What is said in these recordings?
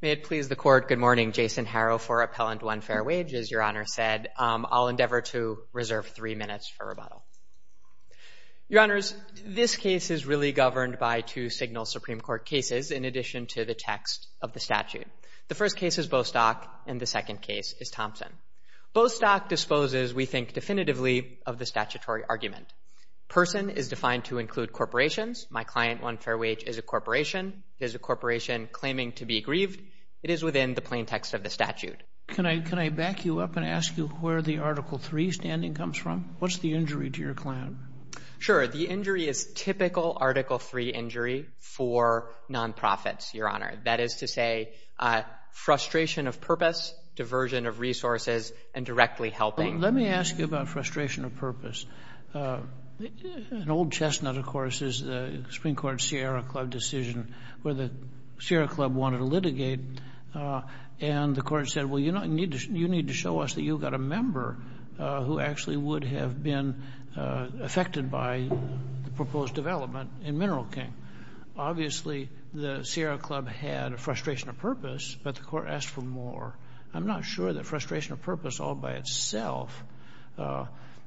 May it please the Court, good morning. Jason Harrow for Appellant 1 Fair Wage. As Your Honor said, I'll endeavor to reserve three minutes for rebuttal. Your Honors, this case is really governed by two signal Supreme Court cases in addition to the text of the statute. The first case is Bostock and the second case is Thompson. Bostock disposes, we think definitively, of the statutory argument. Person is defined to include corporations. My client, 1 Fair Wage, is a corporation. It is a corporation claiming to be grieved. It is within the plain text of the statute. Can I back you up and ask you where the Article 3 standing comes from? What's the injury to your client? Sure. The injury is typical Article 3 injury for nonprofits, Your Honor. That is to say, frustration of purpose, diversion of resources, and directly helping. Let me ask you about frustration of purpose. An old chestnut, of course, is the Supreme Court Sierra Club decision where the Sierra Club wanted to litigate, and the Court said, well, you need to show us that you've got a member who actually would have been affected by the proposed development in Mineral King. Obviously, the Sierra Club had a frustration of purpose, but the Court asked for more. I'm not sure that frustration of purpose all by itself,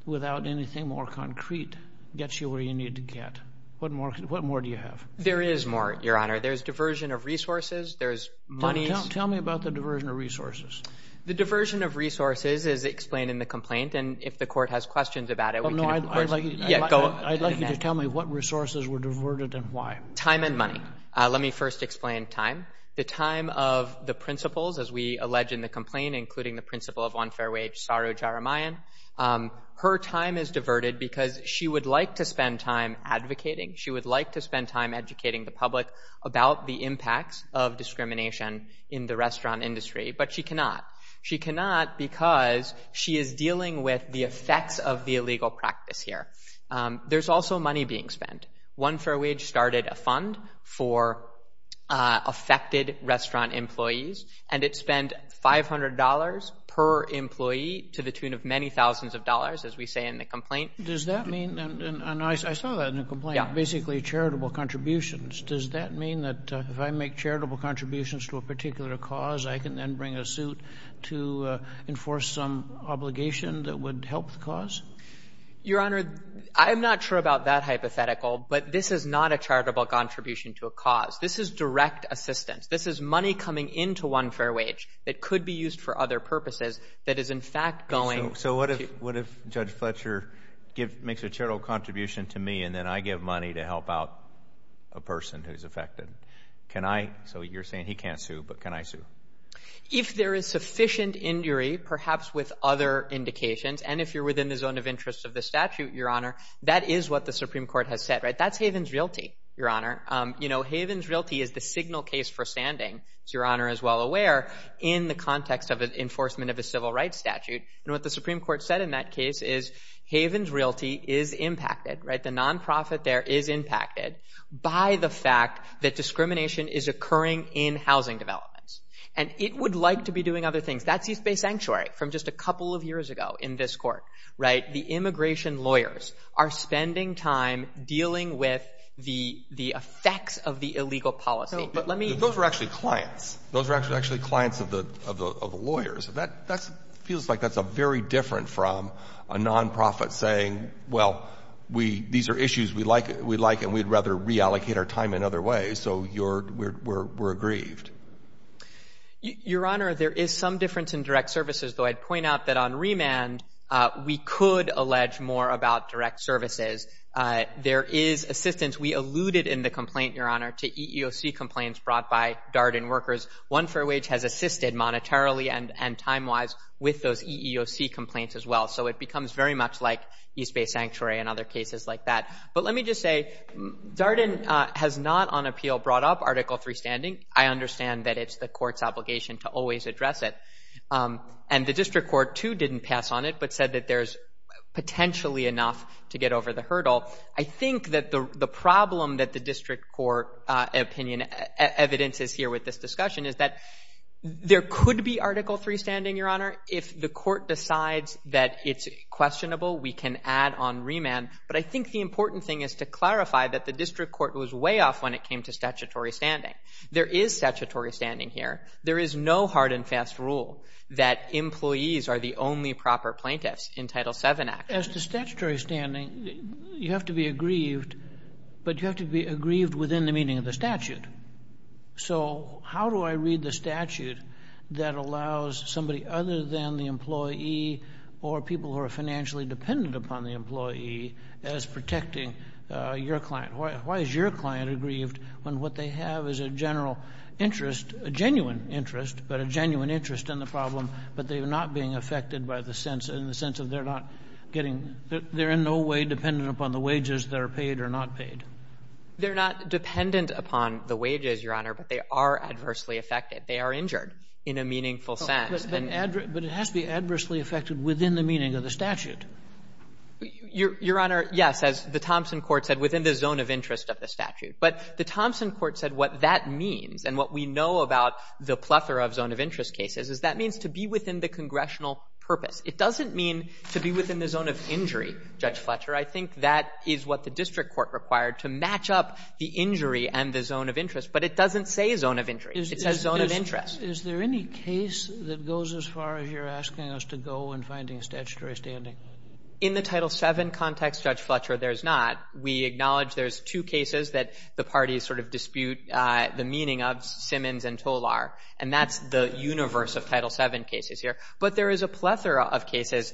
without anything more concrete, gets you where you need to get. What more do you have? There is more, Your Honor. There's diversion of resources. There's money. Tell me about the diversion of resources. The diversion of resources is explained in the complaint, and if the Court has questions about it, we can, of course, go in that. I'd like you to tell me what resources were diverted and why. Time and money. Let me first explain time. The time of the principles, as we allege in the complaint, including the principle of one fair wage, Saru Jaramayan, her time is diverted because she would like to spend time advocating. She would like to spend time educating the public about the impacts of discrimination in the restaurant industry, but she cannot. She cannot because she is dealing with the effects of the illegal practice here. There's also money being spent. One Fair Wage started a fund for affected restaurant employees, and it spent $500 per employee to the tune of many thousands of dollars, as we say in the complaint. Does that mean, and I saw that in the complaint, basically charitable contributions. Does that mean that if I make charitable contributions to a particular cause, I can then bring a suit to enforce some obligation that would help the cause? Your Honor, I'm not sure about that hypothetical, but this is not a charitable contribution to a cause. This is direct assistance. This is money coming into One Fair Wage that could be used for other purposes that is, in fact, going. So what if Judge Fletcher makes a charitable contribution to me, and then I give money to help out a person who's affected? So you're saying he can't sue, but can I sue? If there is sufficient injury, perhaps with other indications, and if you're within the zone of interest of the statute, Your Honor, that is what the Supreme Court has said. That's Havens Realty, Your Honor. Havens Realty is the signal case for standing, as Your Honor is well aware, in the context of an enforcement of a civil rights statute. What the Supreme Court said in that case is Havens Realty is impacted, the non-profit there is impacted by the fact that discrimination is occurring in housing developments. It would like to be doing other things. That's East Bay Sanctuary from just a couple of years ago in this Court, right? The immigration lawyers are spending time dealing with the effects of the illegal policy. But let me — Those are actually clients. Those are actually clients of the lawyers. That feels like that's very different from a non-profit saying, well, we — these are issues we like, and we'd rather reallocate our time in other ways, so we're aggrieved. Your Honor, there is some difference in direct services, though. I'd point out that on remand, we could allege more about direct services. There is assistance. We alluded in the complaint, Your Honor, to EEOC complaints brought by Darden workers. One Fair Wage has assisted monetarily and time-wise with those EEOC complaints as well, so it becomes very much like East Bay Sanctuary and other cases like that. But let me just say, Darden has not, on appeal, brought up Article III standing. I understand that it's the Court's obligation to always address it. And the District Court, too, didn't pass on it, but said that there's potentially enough to get over the hurdle. I think that the problem that the District Court opinion — evidence is here with this discussion is that there could be Article III standing, Your Honor. If the Court decides that it's questionable, we can add on remand. But I think the important thing is to clarify that the District Court was way off when it came to statutory standing. There is statutory standing here. There is no hard and fast rule that employees are the only proper plaintiffs in Title VII Act. As to statutory standing, you have to be aggrieved, but you have to be aggrieved within the meaning of the statute. So how do I read the statute that allows somebody other than the employee or people who are financially dependent upon the employee as protecting your client? Why is your client aggrieved when what they have is a general interest, a genuine interest, but a genuine interest in the problem, but they're not being affected by the sense — in the sense of they're not getting — they're in no way dependent upon the wages that are paid or not paid? They're not dependent upon the wages, Your Honor, but they are adversely affected. They are injured in a meaningful sense. And — But it has to be adversely affected within the meaning of the statute. Your Honor, yes, as the Thompson court said, within the zone of interest of the statute. But the Thompson court said what that means, and what we know about the plethora of zone of interest cases, is that means to be within the congressional purpose. It doesn't mean to be within the zone of injury, Judge Fletcher. I think that is what the District Court required, to match up the injury and the zone of interest. But it doesn't say zone of injury. It says zone of interest. Is there any case that goes as far as you're asking us to go in finding statutory standing? In the Title VII context, Judge Fletcher, there's not. We acknowledge there's two cases that the parties sort of dispute the meaning of, Simmons and Tolar. And that's the universe of Title VII cases here. But there is a plethora of cases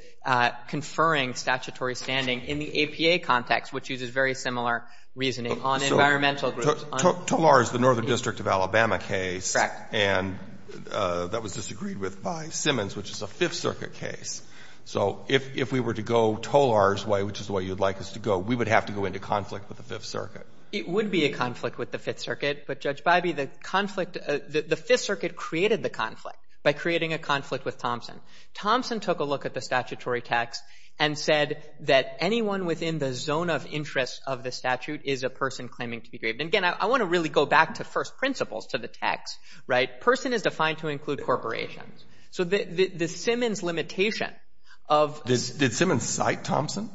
conferring statutory standing in the APA context, which uses very similar reasoning on environmental groups. So Tolar is the Northern District of Alabama case. Correct. And that was disagreed with by Simmons, which is a Fifth Circuit case. So if we were to go Tolar's way, which is the way you'd like us to go, we would have to go into conflict with the Fifth Circuit. It would be a conflict with the Fifth Circuit. But, Judge Biby, the conflict the Fifth Circuit created the conflict by creating a conflict with Thompson. Thompson took a look at the statutory text and said that anyone within the zone of interest of the statute is a person claiming to be grieved. And, again, I want to really go back to first principles, to the text, right? Person is defined to include corporations. So the Simmons limitation of— Did Simmons cite Thompson?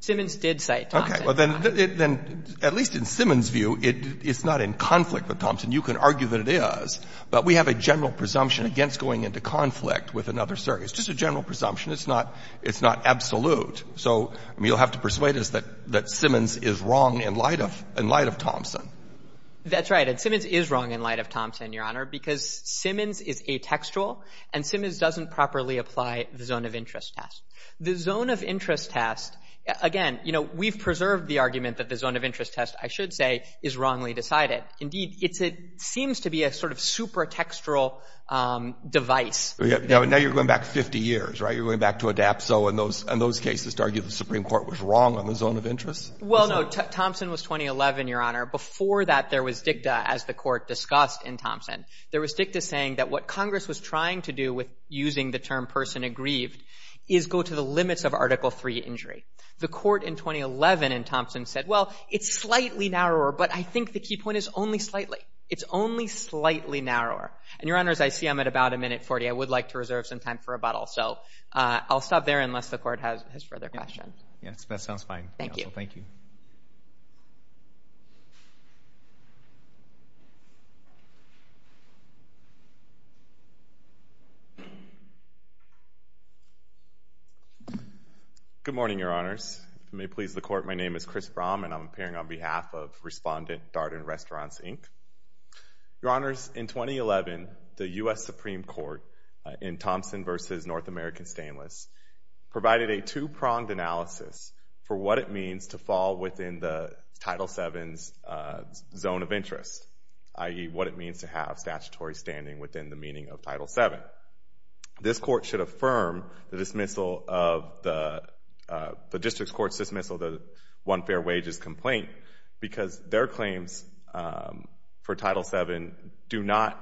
Simmons did cite Thompson. Okay. Well, then, at least in Simmons' view, it's not in conflict with Thompson. You can argue that it is. But we have a general presumption against going into conflict with another circuit. It's just a general presumption. It's not absolute. So, I mean, you'll have to persuade us that Simmons is wrong in light of Thompson. That's right. And Simmons is wrong in light of Thompson, Your Honor, because Simmons is atextual and Simmons doesn't properly apply the zone of interest test. The zone of interest test, again, you know, we've preserved the argument that the zone of interest test, I should say, is wrongly decided. Indeed, it seems to be a sort of supertextual device. Now you're going back 50 years, right? You're going back to ADAPT. So in those cases, to argue the Supreme Court was wrong on the zone of interest? Well, no. Thompson was 2011, Your Honor. Before that, there was dicta, as the Court discussed in Thompson. There was dicta saying that what Congress was trying to do with using the term person aggrieved is go to the limits of Article III injury. The Court in 2011 in Thompson said, well, it's slightly narrower, but I think the key point is only slightly. It's only slightly narrower. And, Your Honors, I see I'm at about a minute 40. I would like to reserve some time for rebuttal. So I'll stop there unless the Court has further questions. Yes, that sounds fine. Thank you. Thank you. Good morning, Your Honors. If it may please the Court, my name is Chris Brom, and I'm appearing on behalf of Respondent Darden Restaurants, Inc. Your Honors, in 2011, the U.S. Supreme Court in Thompson versus North American Stainless provided a two-pronged analysis for what it means to fall within the Title VII's zone of interest, i.e., what it means to have statutory standing within the meaning of Title VII. This Court should affirm the dismissal of the District Court's dismissal of the non-fair wages complaint because their claims for Title VII do not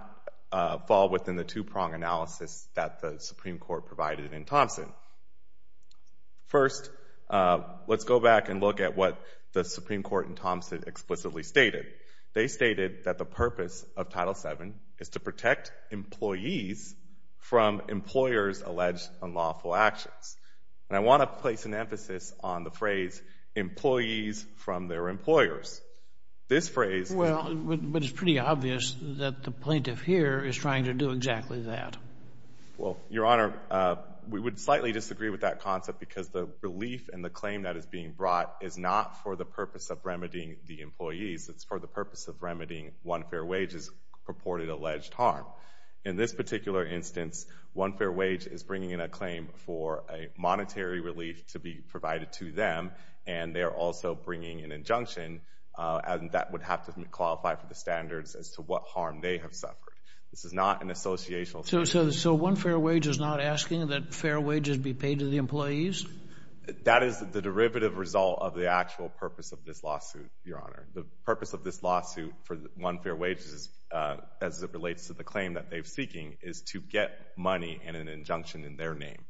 fall within the two-pronged analysis that the Supreme Court provided in Thompson. First, let's go back and look at what the Supreme Court in Thompson explicitly stated. They stated that the purpose of Title VII is to protect employees from employers' alleged unlawful actions. And I want to place an emphasis on the phrase, employees from their employers. This phrase— Well, but it's pretty obvious that the plaintiff here is trying to do exactly that. Well, Your Honor, we would slightly disagree with that concept because the relief and the claim that is being brought is not for the purpose of remedying the employees. It's for the purpose of remedying one fair wage's purported alleged harm. In this particular instance, one fair wage is bringing in a claim for a monetary relief to be provided to them, and they are also bringing an injunction, and that would have to qualify for the standards as to what harm they have suffered. This is not an associational— So one fair wage is not asking that fair wages be paid to the employees? That is the derivative result of the actual purpose of this lawsuit, Your Honor. The purpose of this lawsuit for one fair wage, as it relates to the claim that they're seeking, is to get money and an injunction in their name.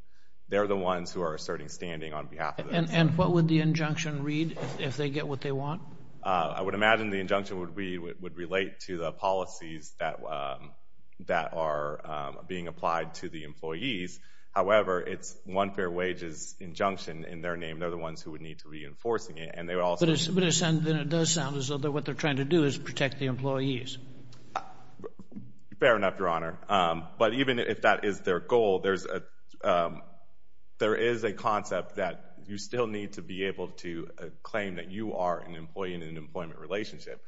They're the ones who are asserting standing on behalf of— And what would the injunction read if they get what they want? I would imagine the injunction would relate to the policies that are being applied to the employees. However, it's one fair wage's injunction in their name. They're the ones who would need to be enforcing it, and they would also— But it does sound as though what they're trying to do is protect the employees. Fair enough, Your Honor. But even if that is their goal, there is a concept that you still need to be able to claim that you are an employee in an employment relationship.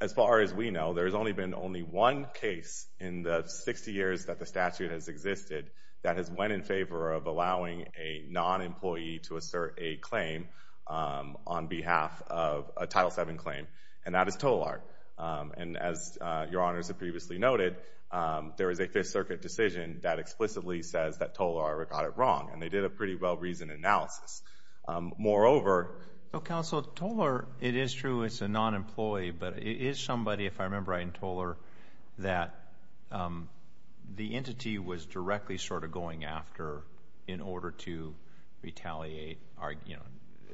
As far as we know, there has only been only one case in the 60 years that the statute has existed that has went in favor of allowing a non-employee to assert a claim on behalf of a Title VII claim, and that is Tolar. And as Your Honors have previously noted, there is a Fifth Circuit decision that explicitly says that Tolar got it wrong, and they did a pretty well-reasoned analysis. Moreover— Counsel, Tolar, it is true it's a non-employee. If I remember right in Tolar that the entity was directly sort of going after in order to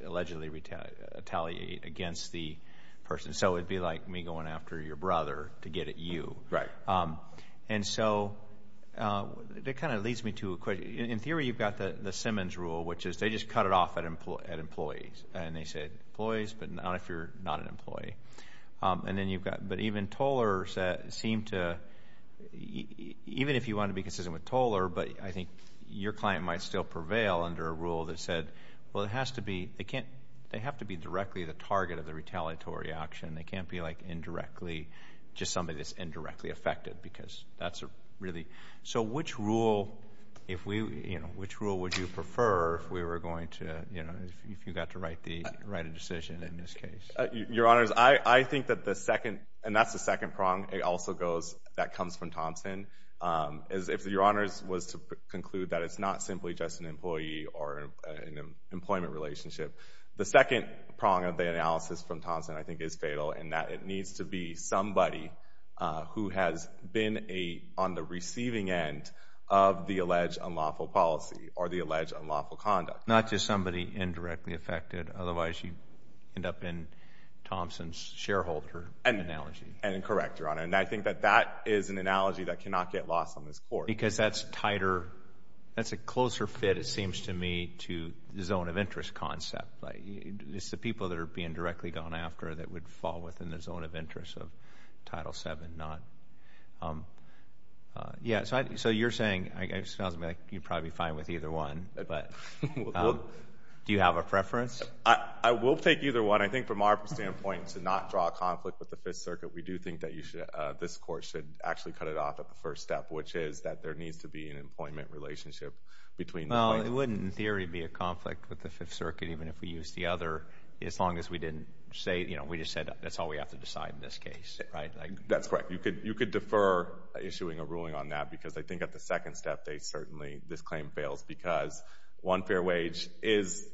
allegedly retaliate against the person. So it would be like me going after your brother to get at you. Right. And so that kind of leads me to a question. In theory, you've got the Simmons rule, which is they just cut it off at employees, and then you've got—but even Tolar seemed to—even if you want to be consistent with Tolar, but I think your client might still prevail under a rule that said, well, it has to be—they can't—they have to be directly the target of the retaliatory action. They can't be like indirectly—just somebody that's indirectly affected because that's really—so which rule if we, you know, which rule would you prefer if we were going to, you know, if you got to write a decision in this case? Your Honors, I think that the second—and that's the second prong it also goes—that comes from Thompson. If your Honors was to conclude that it's not simply just an employee or an employment relationship, the second prong of the analysis from Thompson I think is fatal in that it needs to be somebody who has been a—on the receiving end of the alleged unlawful policy or the alleged unlawful conduct. Not just somebody indirectly affected. Otherwise, you end up in Thompson's shareholder analogy. And incorrect, Your Honor. And I think that that is an analogy that cannot get lost on this Court. Because that's tighter—that's a closer fit, it seems to me, to the zone of interest concept. It's the people that are being directly gone after that would fall within the zone of interest of Title VII, not—yeah, so you're saying—it sounds to me like you'd probably be fine with either one, but do you have a preference? I will take either one. I think from our standpoint, to not draw a conflict with the Fifth Circuit, we do think that you should—this Court should actually cut it off at the first step, which is that there needs to be an employment relationship between— Well, it wouldn't, in theory, be a conflict with the Fifth Circuit even if we used the other as long as we didn't say—you know, we just said that's all we have to decide in this case, right? That's correct. You could defer issuing a ruling on that because I think at the second step, they certainly—this claim fails because one fair wage is,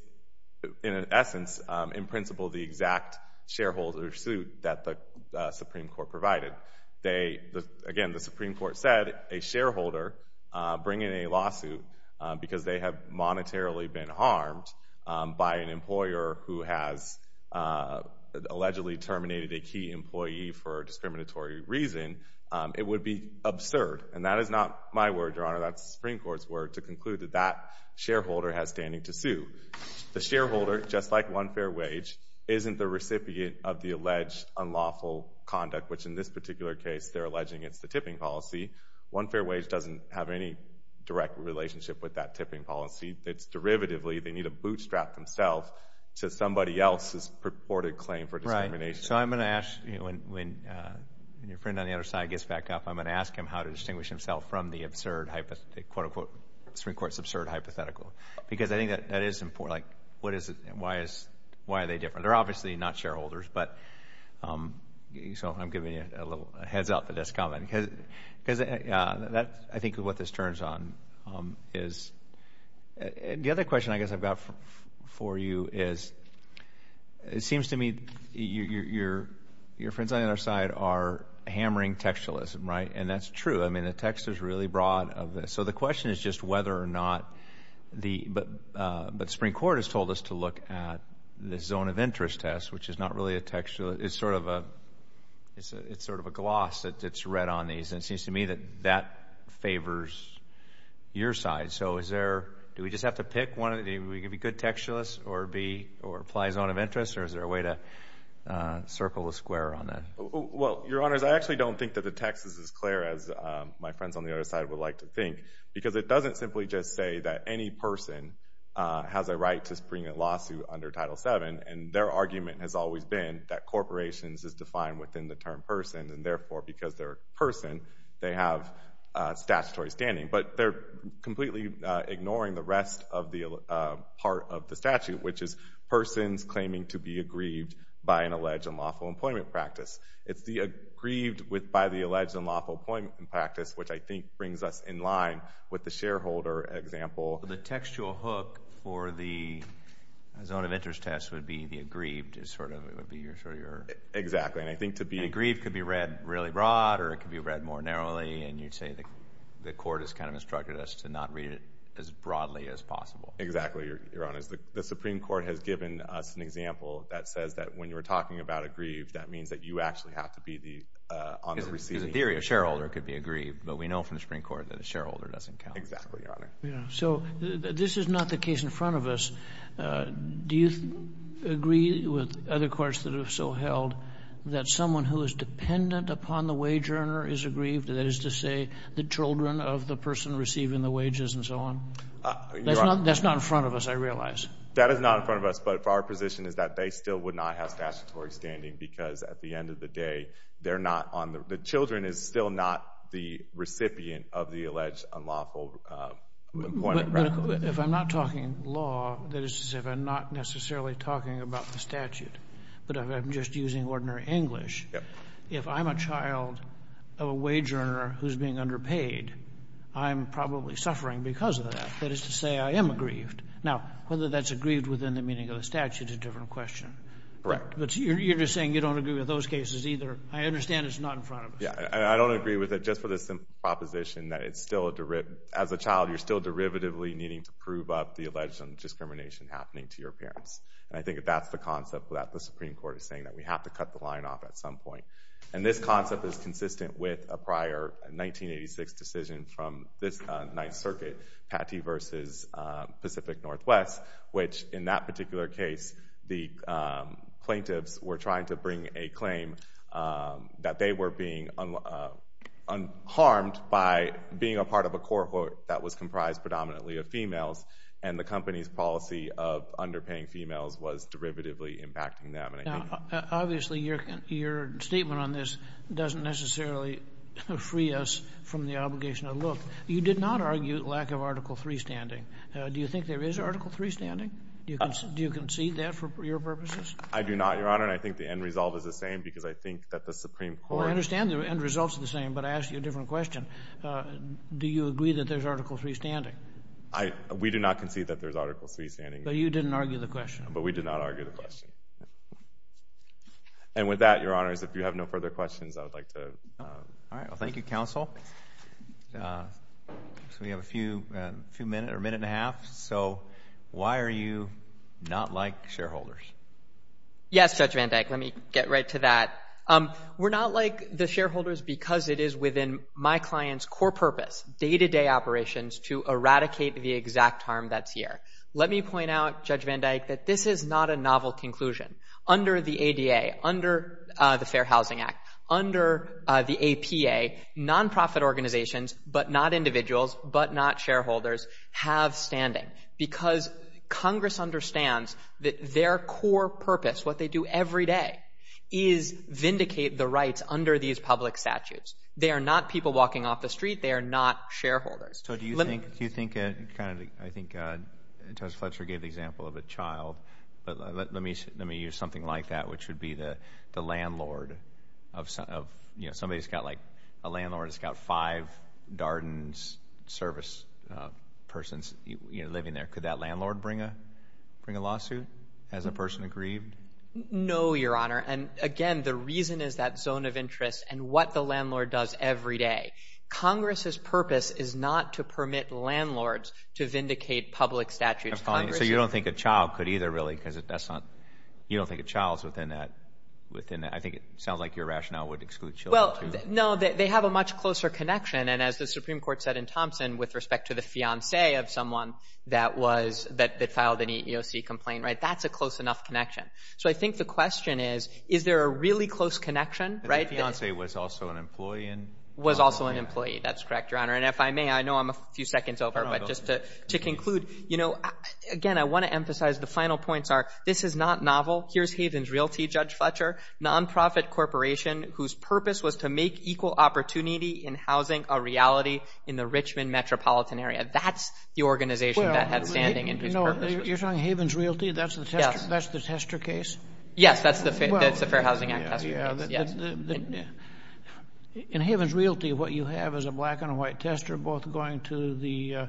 in essence, in principle, the exact shareholder suit that the Supreme Court provided. Again, the Supreme Court said a shareholder bringing a lawsuit because they have monetarily been harmed by an employer who has allegedly terminated a key employee for a discriminatory reason, it would be absurd, and that is not my word, Your Honor. That's the Supreme Court's word to conclude that that shareholder has standing to sue. The shareholder, just like one fair wage, isn't the recipient of the alleged unlawful conduct, which in this particular case, they're alleging it's the tipping policy. One fair wage doesn't have any direct relationship with that tipping policy. It's derivatively—they need to bootstrap themselves to somebody else's purported claim for discrimination. Right. So I'm going to ask—when your friend on the other side gets back up, I'm going to ask him how to distinguish himself from the absurd, quote-unquote, Supreme Court's absurd hypothetical because I think that is important. Like, what is it? Why is—why are they different? They're obviously not shareholders, but—so I'm giving you a little heads-up that that's common because that's, I think, what this turns on is—the other question I guess I've got for you is it seems to me your friends on the other side are hammering textualism, right? And that's true. I mean, the text is really broad of this. So the question is just whether or not the—but the Supreme Court has told us to look at the zone of interest test, which is not really a textualist. It's sort of a—it's sort of a gloss that's read on these. And it seems to me that that favors your side. So is there—do we just have to pick one? Are we going to be good textualists or be—or apply zone of interest? Or is there a way to circle the square on that? Well, Your Honors, I actually don't think that the text is as clear as my friends on the other side would like to think because it doesn't simply just say that any person has a right to bring a lawsuit under Title VII, and their argument has always been that corporations is defined within the term person, and therefore because they're a person, they have statutory standing. But they're completely ignoring the rest of the part of the statute, which is persons claiming to be aggrieved by an alleged unlawful employment practice. It's the aggrieved by the alleged unlawful employment practice, which I think brings us in line with the shareholder example. The textual hook for the zone of interest test would be the aggrieved is sort of—it would be sort of your— Exactly. And I think to be— And aggrieved could be read really broad, or it could be read more narrowly. And you'd say the Court has kind of instructed us to not read it as broadly as possible. Exactly, Your Honors. The Supreme Court has given us an example that says that when you're talking about aggrieved, that means that you actually have to be the—on the receiving end. In theory, a shareholder could be aggrieved, but we know from the Supreme Court that a shareholder doesn't count. Exactly, Your Honor. So this is not the case in front of us. Do you agree with other courts that have so held that someone who is dependent upon the wage earner is aggrieved? That is to say, the children of the person receiving the wages and so on? That's not in front of us, I realize. That is not in front of us, but if our position is that they still would not have statutory standing because at the end of the day, they're not on the—the children is still not the recipient of the alleged unlawful employment— But if I'm not talking law, that is to say if I'm not necessarily talking about the statute, but if I'm just using ordinary English, if I'm a child of a wage earner who's being underpaid, I'm probably suffering because of that. That is to say, I am aggrieved. Now, whether that's aggrieved within the meaning of the statute is a different question. Correct. But you're just saying you don't agree with those cases either. I understand it's not in front of us. Yeah, I don't agree with it. Just for the simple proposition that it's still a—as a child, you're still derivatively needing to prove up the alleged discrimination happening to your parents. And I think that's the concept that the Supreme Court is saying that we have to cut the line off at some point. And this concept is consistent with a prior 1986 decision from this Ninth Circuit, Patty v. Pacific Northwest, which in that particular case, the plaintiffs were trying to bring a claim that they were being harmed by being a part of a cohort that was comprised predominantly of females. And the company's policy of underpaying females was derivatively impacting them. Now, obviously, your statement on this doesn't necessarily free us from the obligation to look. You did not argue lack of Article III standing. Do you think there is Article III standing? Do you concede that for your purposes? I do not, Your Honor. And I think the end result is the same, because I think that the Supreme Court— Well, I understand the end result's the same, but I ask you a different question. Do you agree that there's Article III standing? We do not concede that there's Article III standing. But you didn't argue the question. But we did not argue the question. And with that, Your Honors, if you have no further questions, I would like to— All right. Well, thank you, counsel. So we have a few minutes, or a minute and a half. So why are you not like shareholders? Yes, Judge Van Dyke, let me get right to that. We're not like the shareholders because it is within my client's core purpose, day-to-day operations, to eradicate the exact harm that's here. Let me point out, Judge Van Dyke, that this is not a novel conclusion. Under the ADA, under the Fair Housing Act, under the APA, nonprofit organizations, but not individuals, but not shareholders, have standing. Because Congress understands that their core purpose, what they do every day, is vindicate the rights under these public statutes. They are not people walking off the street. They are not shareholders. So do you think, kind of, I think Judge Fletcher gave the example of a child. But let me use something like that, which would be the landlord of, you know, a landlord that's got five Darden's Service persons living there. Could that landlord bring a lawsuit? Has a person aggrieved? No, Your Honor. And again, the reason is that zone of interest and what the landlord does every day. Congress's purpose is not to permit landlords to vindicate public statutes. So you don't think a child could either, really? You don't think a child's within that? I think it sounds like your rationale would exclude children, too. No, they have a much closer connection. And as the Supreme Court said in Thompson, with respect to the fiancé of someone that was, that filed an EEOC complaint, right? That's a close enough connection. So I think the question is, is there a really close connection, right? The fiancé was also an employee. Was also an employee. That's correct, Your Honor. And if I may, I know I'm a few seconds over, but just to conclude, you know, again, I want to emphasize the final points are, this is not novel. Here's Haven's Realty, Judge Fletcher. Nonprofit corporation whose purpose was to make equal opportunity in housing a reality in the Richmond metropolitan area. That's the organization that had standing. You're talking Haven's Realty? That's the Tester case? Yes, that's the Fair Housing Act Tester case. Yes. In Haven's Realty, what you have is a black and a white tester both going to the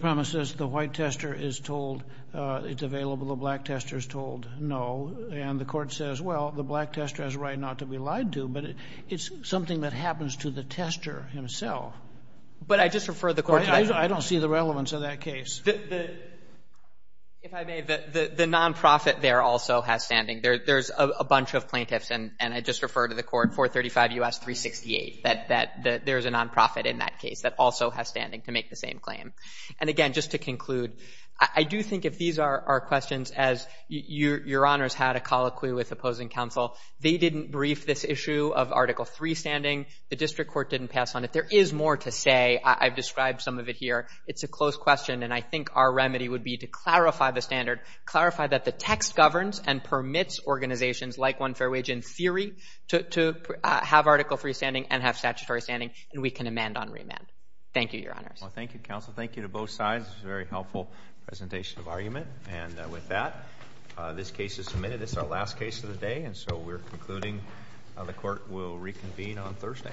premises. The white tester is told it's available. The black tester is told no. And the Court says, well, the black tester has a right not to be lied to. But it's something that happens to the tester himself. But I just refer the Court to that. I don't see the relevance of that case. If I may, the nonprofit there also has standing. There's a bunch of plaintiffs, and I just refer to the Court, 435 U.S. 368. That there's a nonprofit in that case that also has standing to make the same claim. And again, just to conclude, I do think if these are our questions, as Your Honors had a colloquy with opposing counsel, they didn't brief this issue of Article III standing. The District Court didn't pass on it. There is more to say. I've described some of it here. It's a close question, and I think our remedy would be to clarify the standard, clarify that the text governs and permits organizations like One Fair Wage in theory to have Article III standing and have statutory standing, and we can amend on remand. Thank you, Your Honors. Well, thank you, Counsel. Thank you to both sides. This was a very helpful presentation of argument. And with that, this case is submitted. This is our last case of the day, and so we're concluding. The Court will reconvene on Thursday.